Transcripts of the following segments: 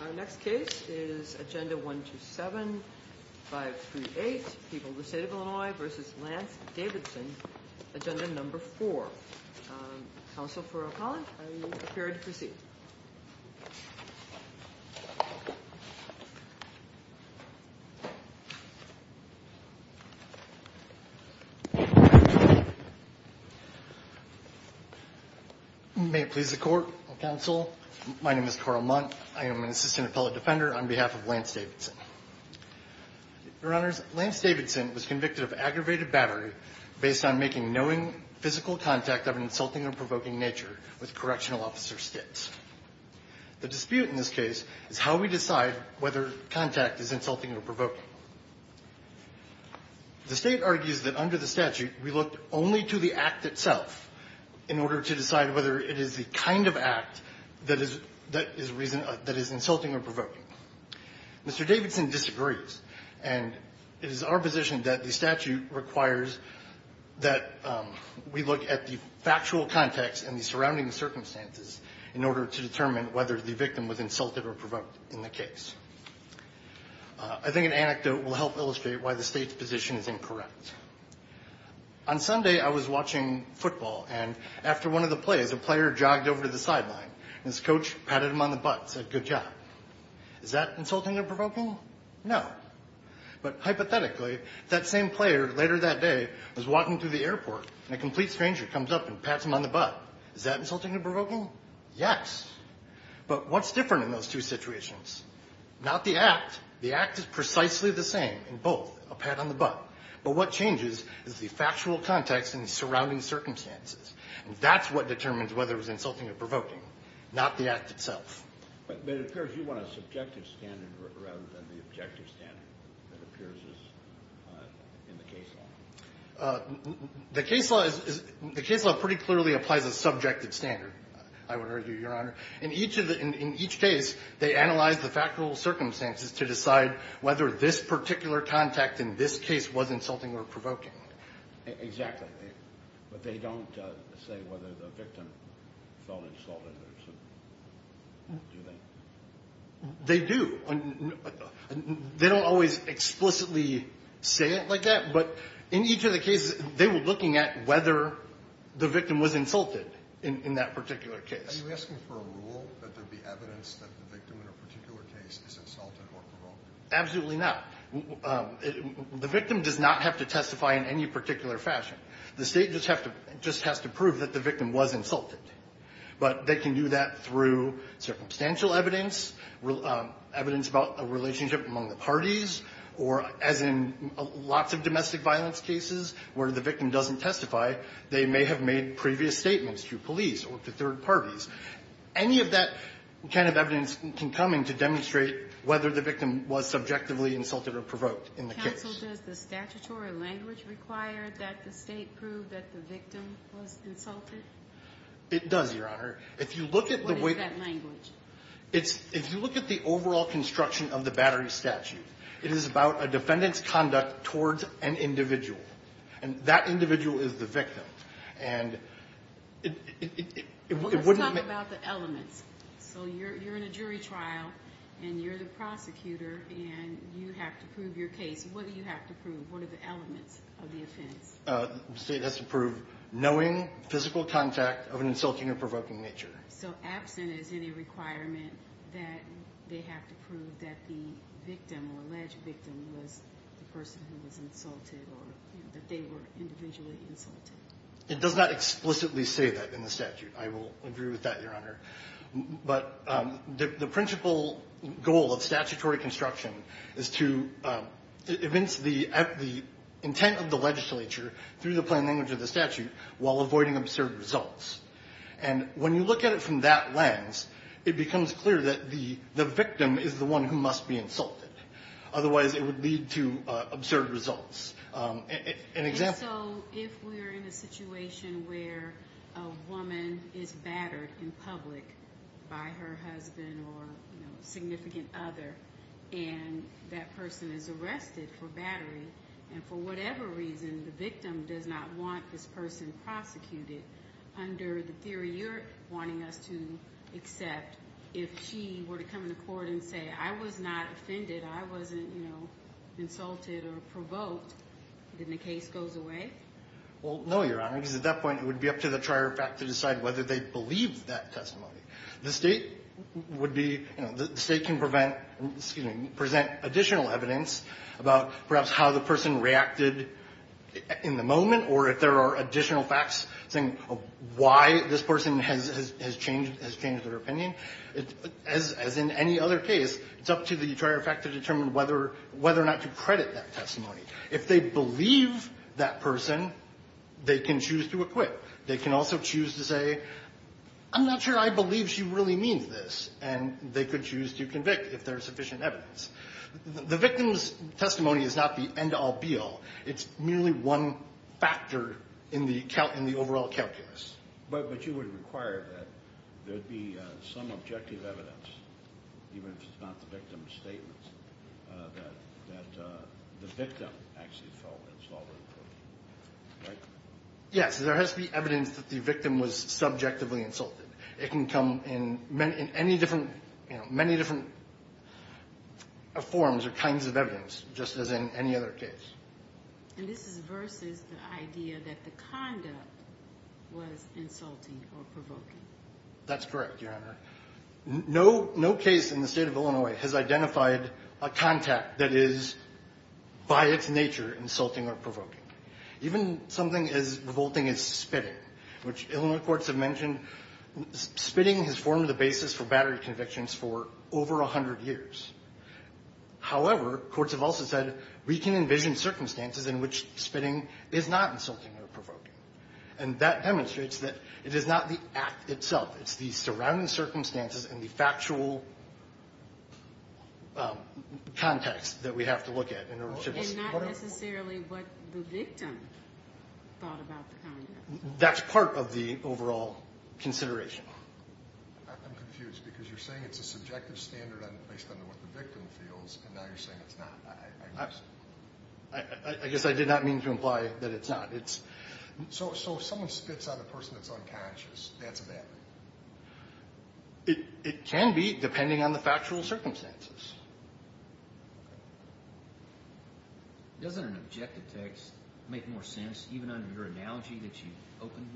Our next case is Agenda 127-538, People of the State of Illinois v. Lance Davidson, Agenda number 4. Counsel for O'Connell, are you prepared to proceed? May it please the Court, Counsel, my name is Carl Munt, I am an Assistant Appellate Defender on behalf of Lance Davidson. Your Honors, Lance Davidson was convicted of aggravated battery based on making knowing physical contact of an insulting or provoking nature with correctional officer Stitts. The dispute in this case is how we decide whether contact is insulting or provoking. The State argues that under the statute, we look only to the act itself in order to decide whether it is the kind of act that is insulting or provoking. Mr. Davidson disagrees, and it is our position that the statute requires that we look at the factual context and the surrounding circumstances in order to determine whether the victim was insulted or provoked in the case. I think an anecdote will help illustrate why the State's position is incorrect. On Sunday, I was watching football, and after one of the plays, a player jogged over to the sideline. And his coach patted him on the butt and said, good job. Is that insulting or provoking? No. But hypothetically, that same player later that day was walking through the airport, and a complete stranger comes up and pats him on the butt. Is that insulting or provoking? Yes. But what's different in those two situations? Not the act. The act is precisely the same in both, a pat on the butt. But what changes is the factual context and the surrounding circumstances. And that's what determines whether it was insulting or provoking, not the act itself. But it appears you want a subjective standard rather than the objective standard that appears in the case law. The case law is – the case law pretty clearly applies a subjective standard, I would argue, Your Honor. In each of the – in each case, they analyze the factual circumstances to decide whether this particular contact in this case was insulting or provoking. Exactly. But they don't say whether the victim felt insulted or – do they? They do. They don't always explicitly say it like that. But in each of the cases, they were looking at whether the victim was insulted in that particular case. Are you asking for a rule that there be evidence that the victim in a particular case is insulted or provoked? Absolutely not. The victim does not have to testify in any particular fashion. The State just has to prove that the victim was insulted. But they can do that through circumstantial evidence, evidence about a relationship among the parties, or as in lots of domestic violence cases where the victim doesn't testify, they may have made previous statements to police or to third parties. Any of that kind of evidence can come in to demonstrate whether the victim was subjectively insulted or provoked in the case. Counsel, does the statutory language require that the State prove that the victim was insulted? It does, Your Honor. If you look at the way – What is that language? It's – if you look at the overall construction of the Battery statute, it is about a defendant's conduct towards an individual. And that individual is the victim. Let's talk about the elements. So you're in a jury trial, and you're the prosecutor, and you have to prove your case. What do you have to prove? What are the elements of the offense? The State has to prove knowing, physical contact of an insulting or provoking nature. So absent is any requirement that they have to prove that the victim or alleged victim was the person who was insulted or that they were individually insulted. It does not explicitly say that in the statute. I will agree with that, Your Honor. But the principal goal of statutory construction is to evince the intent of the legislature through the plain language of the statute while avoiding absurd results. And when you look at it from that lens, it becomes clear that the victim is the one who must be insulted. Otherwise, it would lead to absurd results. And so if we're in a situation where a woman is battered in public by her husband or a significant other, and that person is arrested for battery, and for whatever reason the victim does not want this person prosecuted, under the theory you're wanting us to accept, if she were to come to court and say, I was not offended, I wasn't, you know, insulted or provoked, then the case goes away? Well, no, Your Honor, because at that point it would be up to the trier of fact to decide whether they believed that testimony. The State would be, you know, the State can prevent, excuse me, present additional evidence about perhaps how the person reacted in the moment or if there are additional facts saying why this person has changed their opinion. As in any other case, it's up to the trier of fact to determine whether or not to credit that testimony. If they believe that person, they can choose to acquit. They can also choose to say, I'm not sure I believe she really means this, and they could choose to convict if there is sufficient evidence. The victim's testimony is not the end-all, be-all. It's merely one factor in the overall calculus. But you would require that there be some objective evidence, even if it's not the victim's statements, that the victim actually felt insulted or provoked, right? Yes, there has to be evidence that the victim was subjectively insulted. It can come in many different forms or kinds of evidence, just as in any other case. And this is versus the idea that the conduct was insulting or provoking. That's correct, Your Honor. No case in the State of Illinois has identified a contact that is by its nature insulting or provoking. Even something as revolting as spitting, which Illinois courts have mentioned, spitting has formed the basis for battery convictions for over 100 years. However, courts have also said we can envision circumstances in which spitting is not insulting or provoking. And that demonstrates that it is not the act itself. It's the surrounding circumstances and the factual context that we have to look at. It's not necessarily what the victim thought about the conduct. That's part of the overall consideration. I'm confused because you're saying it's a subjective standard based on what the victim feels, and now you're saying it's not. I guess I did not mean to imply that it's not. So if someone spits on a person that's unconscious, that's a battery? It can be, depending on the factual circumstances. Doesn't an objective text make more sense, even under your analogy that you opened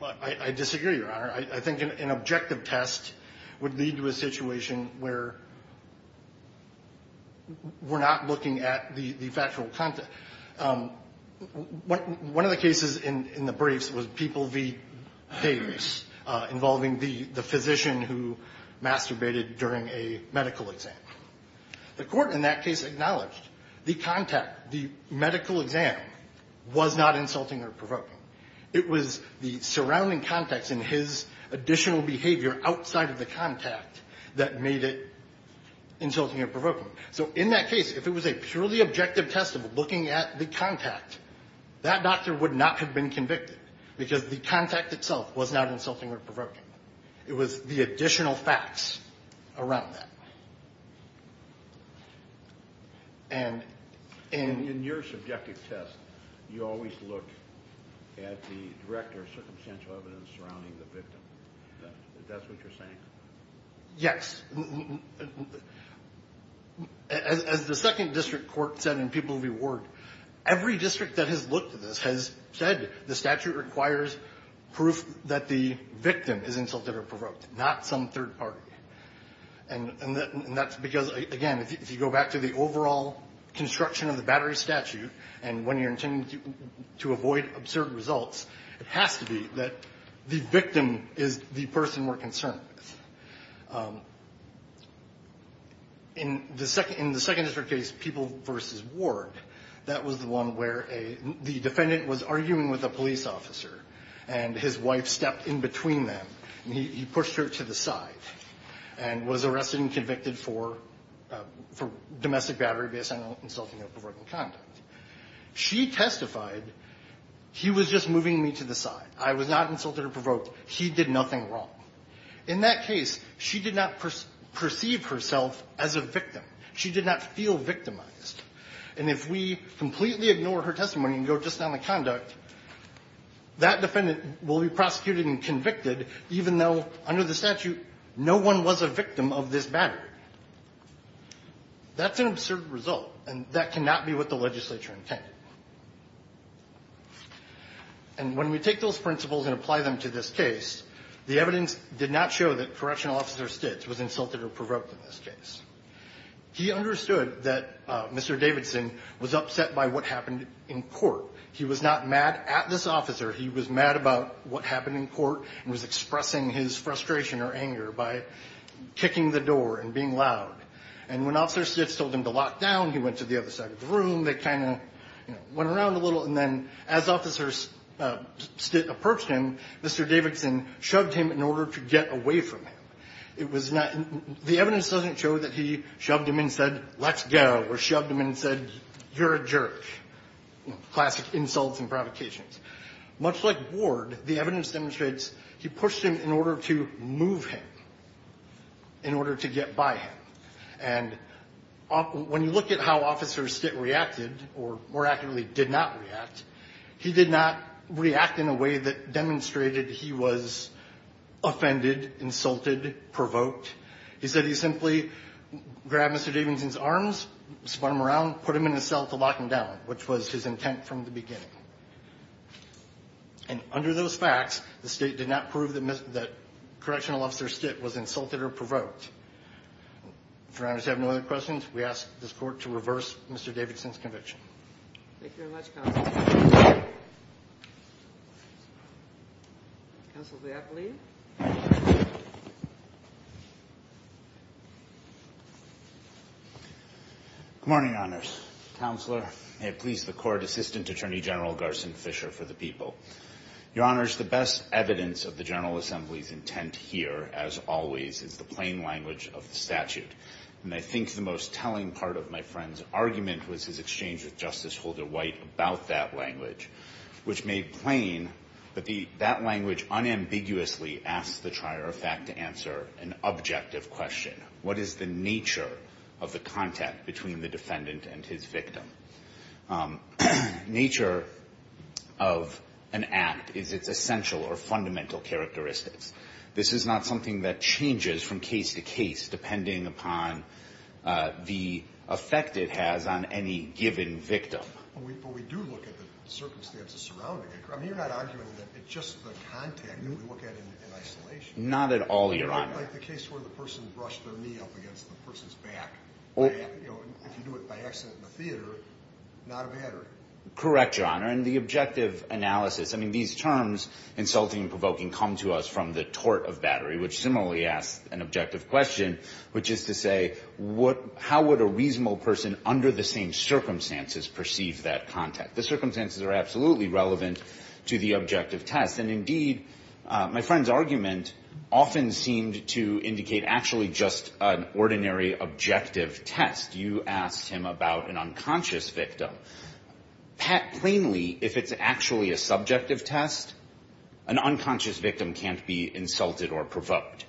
with? I disagree, Your Honor. I think an objective test would lead to a situation where we're not looking at the factual context. One of the cases in the briefs was People v. Davis, involving the physician who masturbated during a medical exam. The court in that case acknowledged the contact, the medical exam, was not insulting or provoking. It was the surrounding context and his additional behavior outside of the contact that made it insulting or provoking. So in that case, if it was a purely objective test of looking at the contact, that doctor would not have been convicted because the contact itself was not insulting or provoking. It was the additional facts around that. And in your subjective test, you always look at the direct or circumstantial evidence surrounding the victim. Is that what you're saying? Yes. As the Second District Court said in People v. Ward, every district that has looked at this has said the statute requires proof that the victim is insulted or provoked, not some third party. And that's because, again, if you go back to the overall construction of the Battery Statute, and when you're intending to avoid absurd results, it has to be that the victim is the person we're concerned with. In the second district case, People v. Ward, that was the one where the defendant was arguing with a police officer and his wife stepped in between them and he pushed her to the side and was arrested and convicted for domestic battery based on insulting or provoking conduct. She testified, he was just moving me to the side. I was not insulted or provoked. He did nothing wrong. In that case, she did not perceive herself as a victim. She did not feel victimized. And if we completely ignore her testimony and go just on the conduct, that defendant will be prosecuted and convicted, even though under the statute no one was a victim of this battery. That's an absurd result, and that cannot be what the legislature intended. And when we take those principles and apply them to this case, the evidence did not show that Correctional Officer Stitz was insulted or provoked in this case. He understood that Mr. Davidson was upset by what happened in court. He was not mad at this officer. He was mad about what happened in court and was expressing his frustration or anger by kicking the door and being loud. And when Officer Stitz told him to lock down, he went to the other side of the room. They kind of went around a little. And then as Officer Stitz approached him, Mr. Davidson shoved him in order to get away from him. The evidence doesn't show that he shoved him and said, let's go, or shoved him and said, you're a jerk. Classic insults and provocations. Much like Ward, the evidence demonstrates he pushed him in order to move him, in order to get by him. And when you look at how Officer Stitz reacted, or more accurately, did not react, he did not react in a way that demonstrated he was offended, insulted, provoked. He said he simply grabbed Mr. Davidson's arms, spun him around, put him in a cell to lock him down, which was his intent from the beginning. And under those facts, the State did not prove that Correctional Officer Stitz was insulted or provoked. If Your Honors have no other questions, we ask this Court to reverse Mr. Davidson's conviction. Thank you very much, Counsel. Counsel, do I have the lead? Good morning, Your Honors. Counselor, may it please the Court, Assistant Attorney General Garson Fisher for the people. Your Honors, the best evidence of the General Assembly's intent here, as always, is the plain language of the statute. And I think the most telling part of my friend's argument was his exchange with Justice Holder White about that language, which made plain that that language unambiguously asks the trier of fact to answer an objective question. What is the nature of the contact between the defendant and his victim? Nature of an act is its essential or fundamental characteristics. This is not something that changes from case to case depending upon the effect it has on any given victim. But we do look at the circumstances surrounding it. I mean, you're not arguing that it's just the contact that we look at in isolation. Not at all, Your Honor. Like the case where the person brushed their knee up against the person's back. If you do it by accident in the theater, not a battery. Correct, Your Honor. And the objective analysis. I mean, these terms, insulting and provoking, come to us from the tort of battery, which similarly asks an objective question, which is to say, how would a reasonable person under the same circumstances perceive that contact? The circumstances are absolutely relevant to the objective test. And indeed, my friend's argument often seemed to indicate actually just an ordinary objective test. You asked him about an unconscious victim. Plainly, if it's actually a subjective test, an unconscious victim can't be insulted or provoked.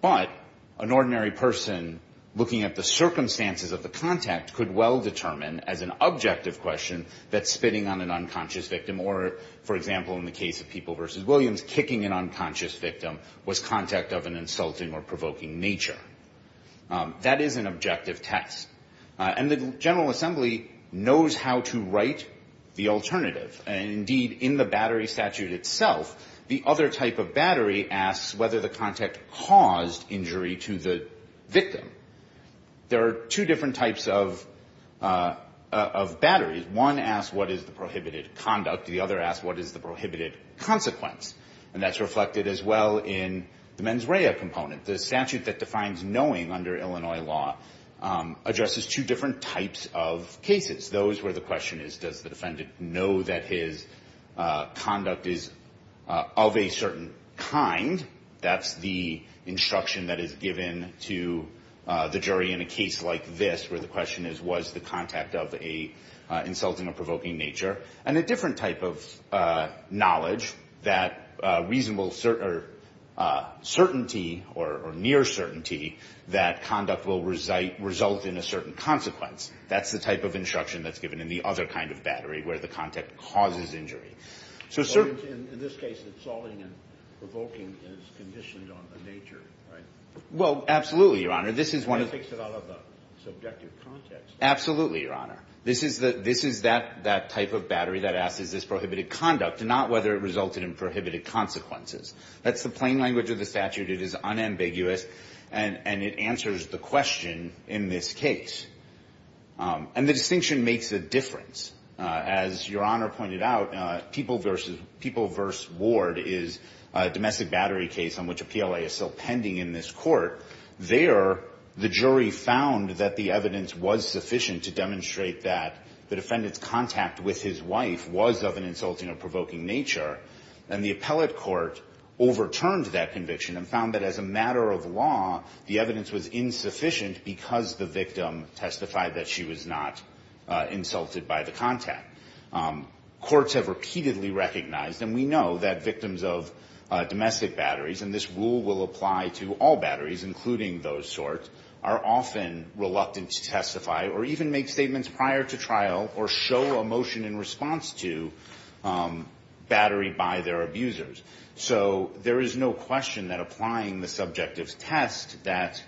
But an ordinary person looking at the circumstances of the contact could well determine, as an objective question, that spitting on an unconscious victim or, for example, in the case of People v. Williams, kicking an unconscious victim was contact of an insulting or provoking nature. That is an objective test. And the General Assembly knows how to write the alternative. Indeed, in the battery statute itself, the other type of battery asks whether the contact caused injury to the victim. There are two different types of batteries. One asks, what is the prohibited conduct? The other asks, what is the prohibited consequence? And that's reflected as well in the mens rea component. The statute that defines knowing under Illinois law addresses two different types of cases, those where the question is, does the defendant know that his conduct is of a certain kind? That's the instruction that is given to the jury in a case like this, where the question is, was the contact of an insulting or provoking nature? And a different type of knowledge, that reasonable certainty or near certainty that conduct will result in a certain consequence. That's the type of instruction that's given in the other kind of battery, where the contact causes injury. In this case, insulting and provoking is conditioned on the nature, right? Well, absolutely, Your Honor. That takes it out of the subjective context. Absolutely, Your Honor. This is that type of battery that asks, is this prohibited conduct, and not whether it resulted in prohibited consequences. That's the plain language of the statute. It is unambiguous, and it answers the question in this case. And the distinction makes a difference. As Your Honor pointed out, People v. Ward is a domestic battery case on which a PLA is still pending in this court. There, the jury found that the evidence was sufficient to demonstrate that the defendant's contact with his wife was of an insulting or provoking nature. And the appellate court overturned that conviction and found that as a matter of law, the evidence was insufficient because the victim testified that she was not insulted by the contact. Courts have repeatedly recognized, and we know that victims of domestic batteries, and this rule will apply to all batteries, including those sorts, are often reluctant to testify or even make statements prior to trial or show a motion in response to battery by their abusers. So there is no question that applying the subjective test that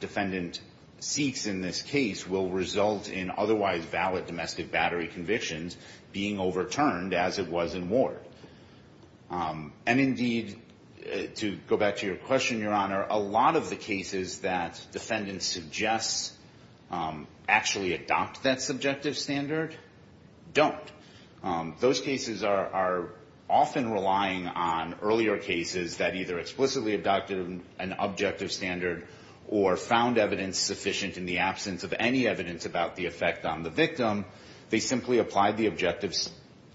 defendant seeks in this case will result in otherwise valid domestic battery convictions being overturned as it was in Ward. And indeed, to go back to your question, Your Honor, a lot of the cases that defendants suggest actually adopt that subjective standard don't. Those cases are often relying on earlier cases that either explicitly adopted an objective standard or found evidence sufficient in the absence of any evidence about the effect on the victim. They simply applied the objective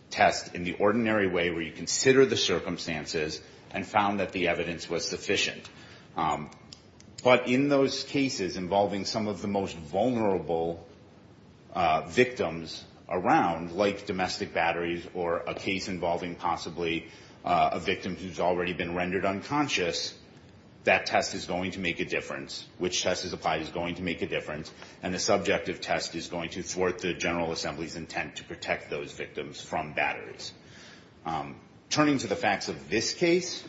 test in the ordinary way where you consider the circumstances and found that the evidence was sufficient. But in those cases involving some of the most vulnerable victims around, like domestic batteries or a case involving possibly a victim who's already been rendered unconscious, that test is going to make a difference. Which test is applied is going to make a difference, and the subjective test is going to thwart the General Assembly's intent to protect those victims from batteries. Turning to the facts of this case,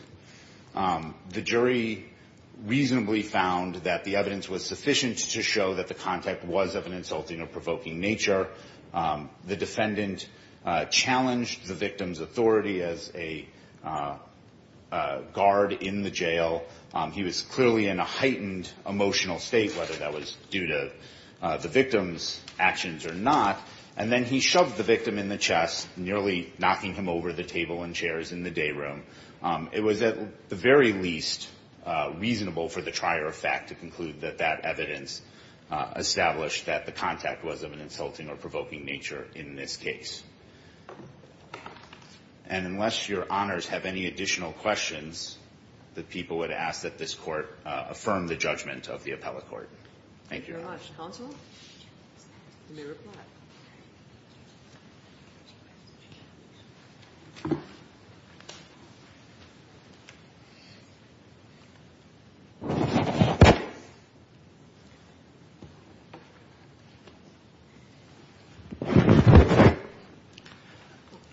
the jury reasonably found that the evidence was sufficient to show that the contact was of an insulting or provoking nature. The defendant challenged the victim's authority as a guard in the jail. He was clearly in a heightened emotional state, whether that was due to the victim's actions or not. And then he shoved the victim in the chest, nearly knocking him over the table and chairs in the day room. It was at the very least reasonable for the trier of fact to conclude that that evidence established that the contact was of an insulting or provoking nature in this case. And unless your honors have any additional questions, the people would ask that this court affirm the judgment of the appellate court. Thank you. Thank you very much. Counsel, you may reply.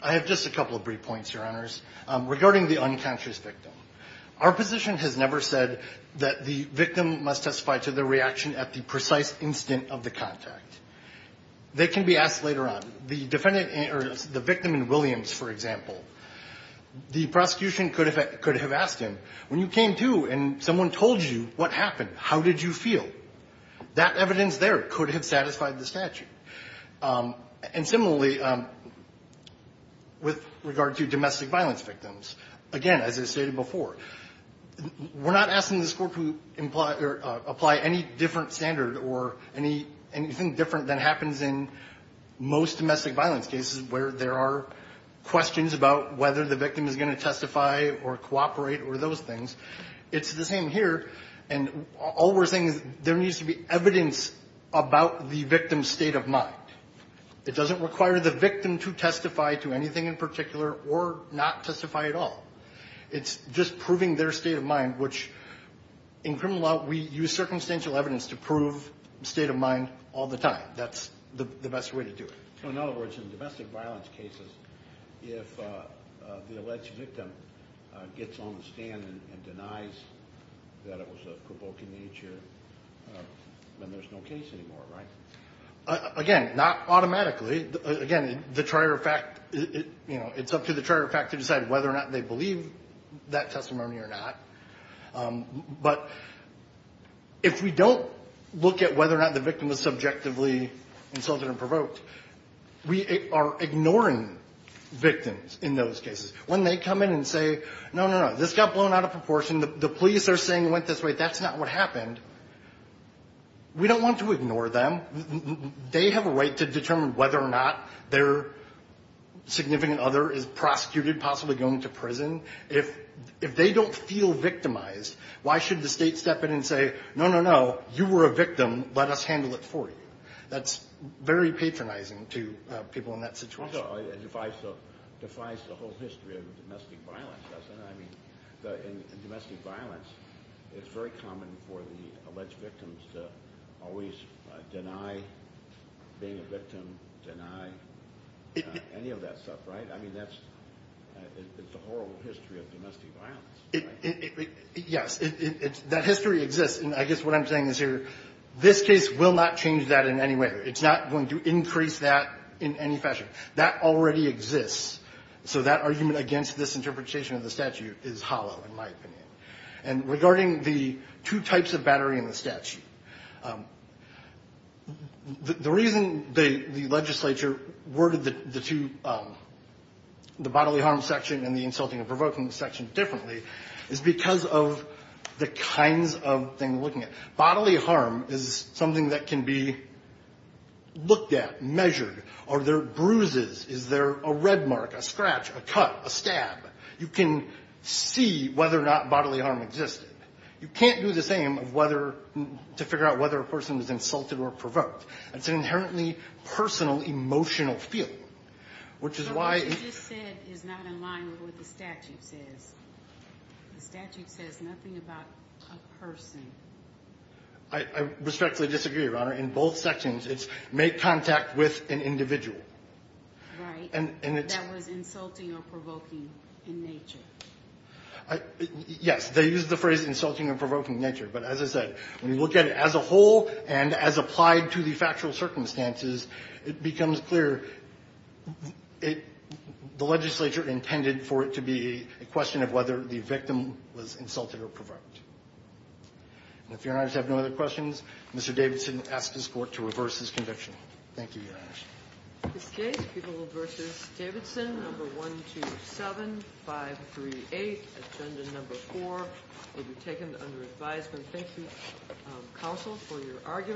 I have just a couple of brief points, your honors, regarding the unconscious victim. Our position has never said that the victim must testify to the reaction at the precise instant of the contact. They can be asked later on. The defendant or the victim in Williams, for example, the prosecution could have asked him, when you came to and someone told you what happened, how did you feel? That evidence there could have satisfied the statute. And similarly, with regard to domestic violence victims, again, as I stated before, we're not asking this court to apply any different standard or anything different than happens in most domestic violence cases where there are questions about whether the victim is going to testify or cooperate or those things. It's the same here. And all we're saying is there needs to be evidence about the victim's state of mind. It doesn't require the victim to testify to anything in particular or not testify at all. It's just proving their state of mind, which in criminal law, we use circumstantial evidence to prove state of mind all the time. That's the best way to do it. So, in other words, in domestic violence cases, if the alleged victim gets on the stand and denies that it was of provoking nature, then there's no case anymore, right? Again, not automatically. Again, the trier of fact, you know, it's up to the trier of fact to decide whether or not they believe that testimony or not. But if we don't look at whether or not the victim was subjectively insulted and provoked, we are ignoring victims in those cases. When they come in and say, no, no, no, this got blown out of proportion. The police are saying it went this way. That's not what happened. We don't want to ignore them. They have a right to determine whether or not their significant other is prosecuted, possibly going to prison. If they don't feel victimized, why should the state step in and say, no, no, no, you were a victim. Let us handle it for you. That's very patronizing to people in that situation. Defies the whole history of domestic violence, doesn't it? I mean, domestic violence, it's very common for the alleged victims to always deny being a victim, deny any of that stuff, right? I mean, that's the whole history of domestic violence. Yes, that history exists. And I guess what I'm saying is here, this case will not change that in any way. It's not going to increase that in any fashion. That already exists, so that argument against this interpretation of the statute is hollow, in my opinion. And regarding the two types of battery in the statute, the reason the legislature worded the two, the bodily harm section and the insulting and provoking section differently is because of the kinds of things we're looking at. Bodily harm is something that can be looked at, measured. Are there bruises? Is there a red mark, a scratch, a cut, a stab? You can see whether or not bodily harm existed. You can't do the same to figure out whether a person is insulted or provoked. It's an inherently personal, emotional feeling. But what you just said is not in line with what the statute says. The statute says nothing about a person. I respectfully disagree, Your Honor. In both sections, it's make contact with an individual. Right. That was insulting or provoking in nature. Yes. They used the phrase insulting or provoking in nature. But as I said, when you look at it as a whole and as applied to the factual circumstances, it becomes clear it the legislature intended for it to be a question of whether the victim was insulted or provoked. And if Your Honors have no other questions, Mr. Davidson asks this Court to reverse his conviction. Thank you, Your Honors. This case, People v. Davidson, Number 127-538, Agenda Number 4, will be taken under advisement. Thank you, counsel, for your argument.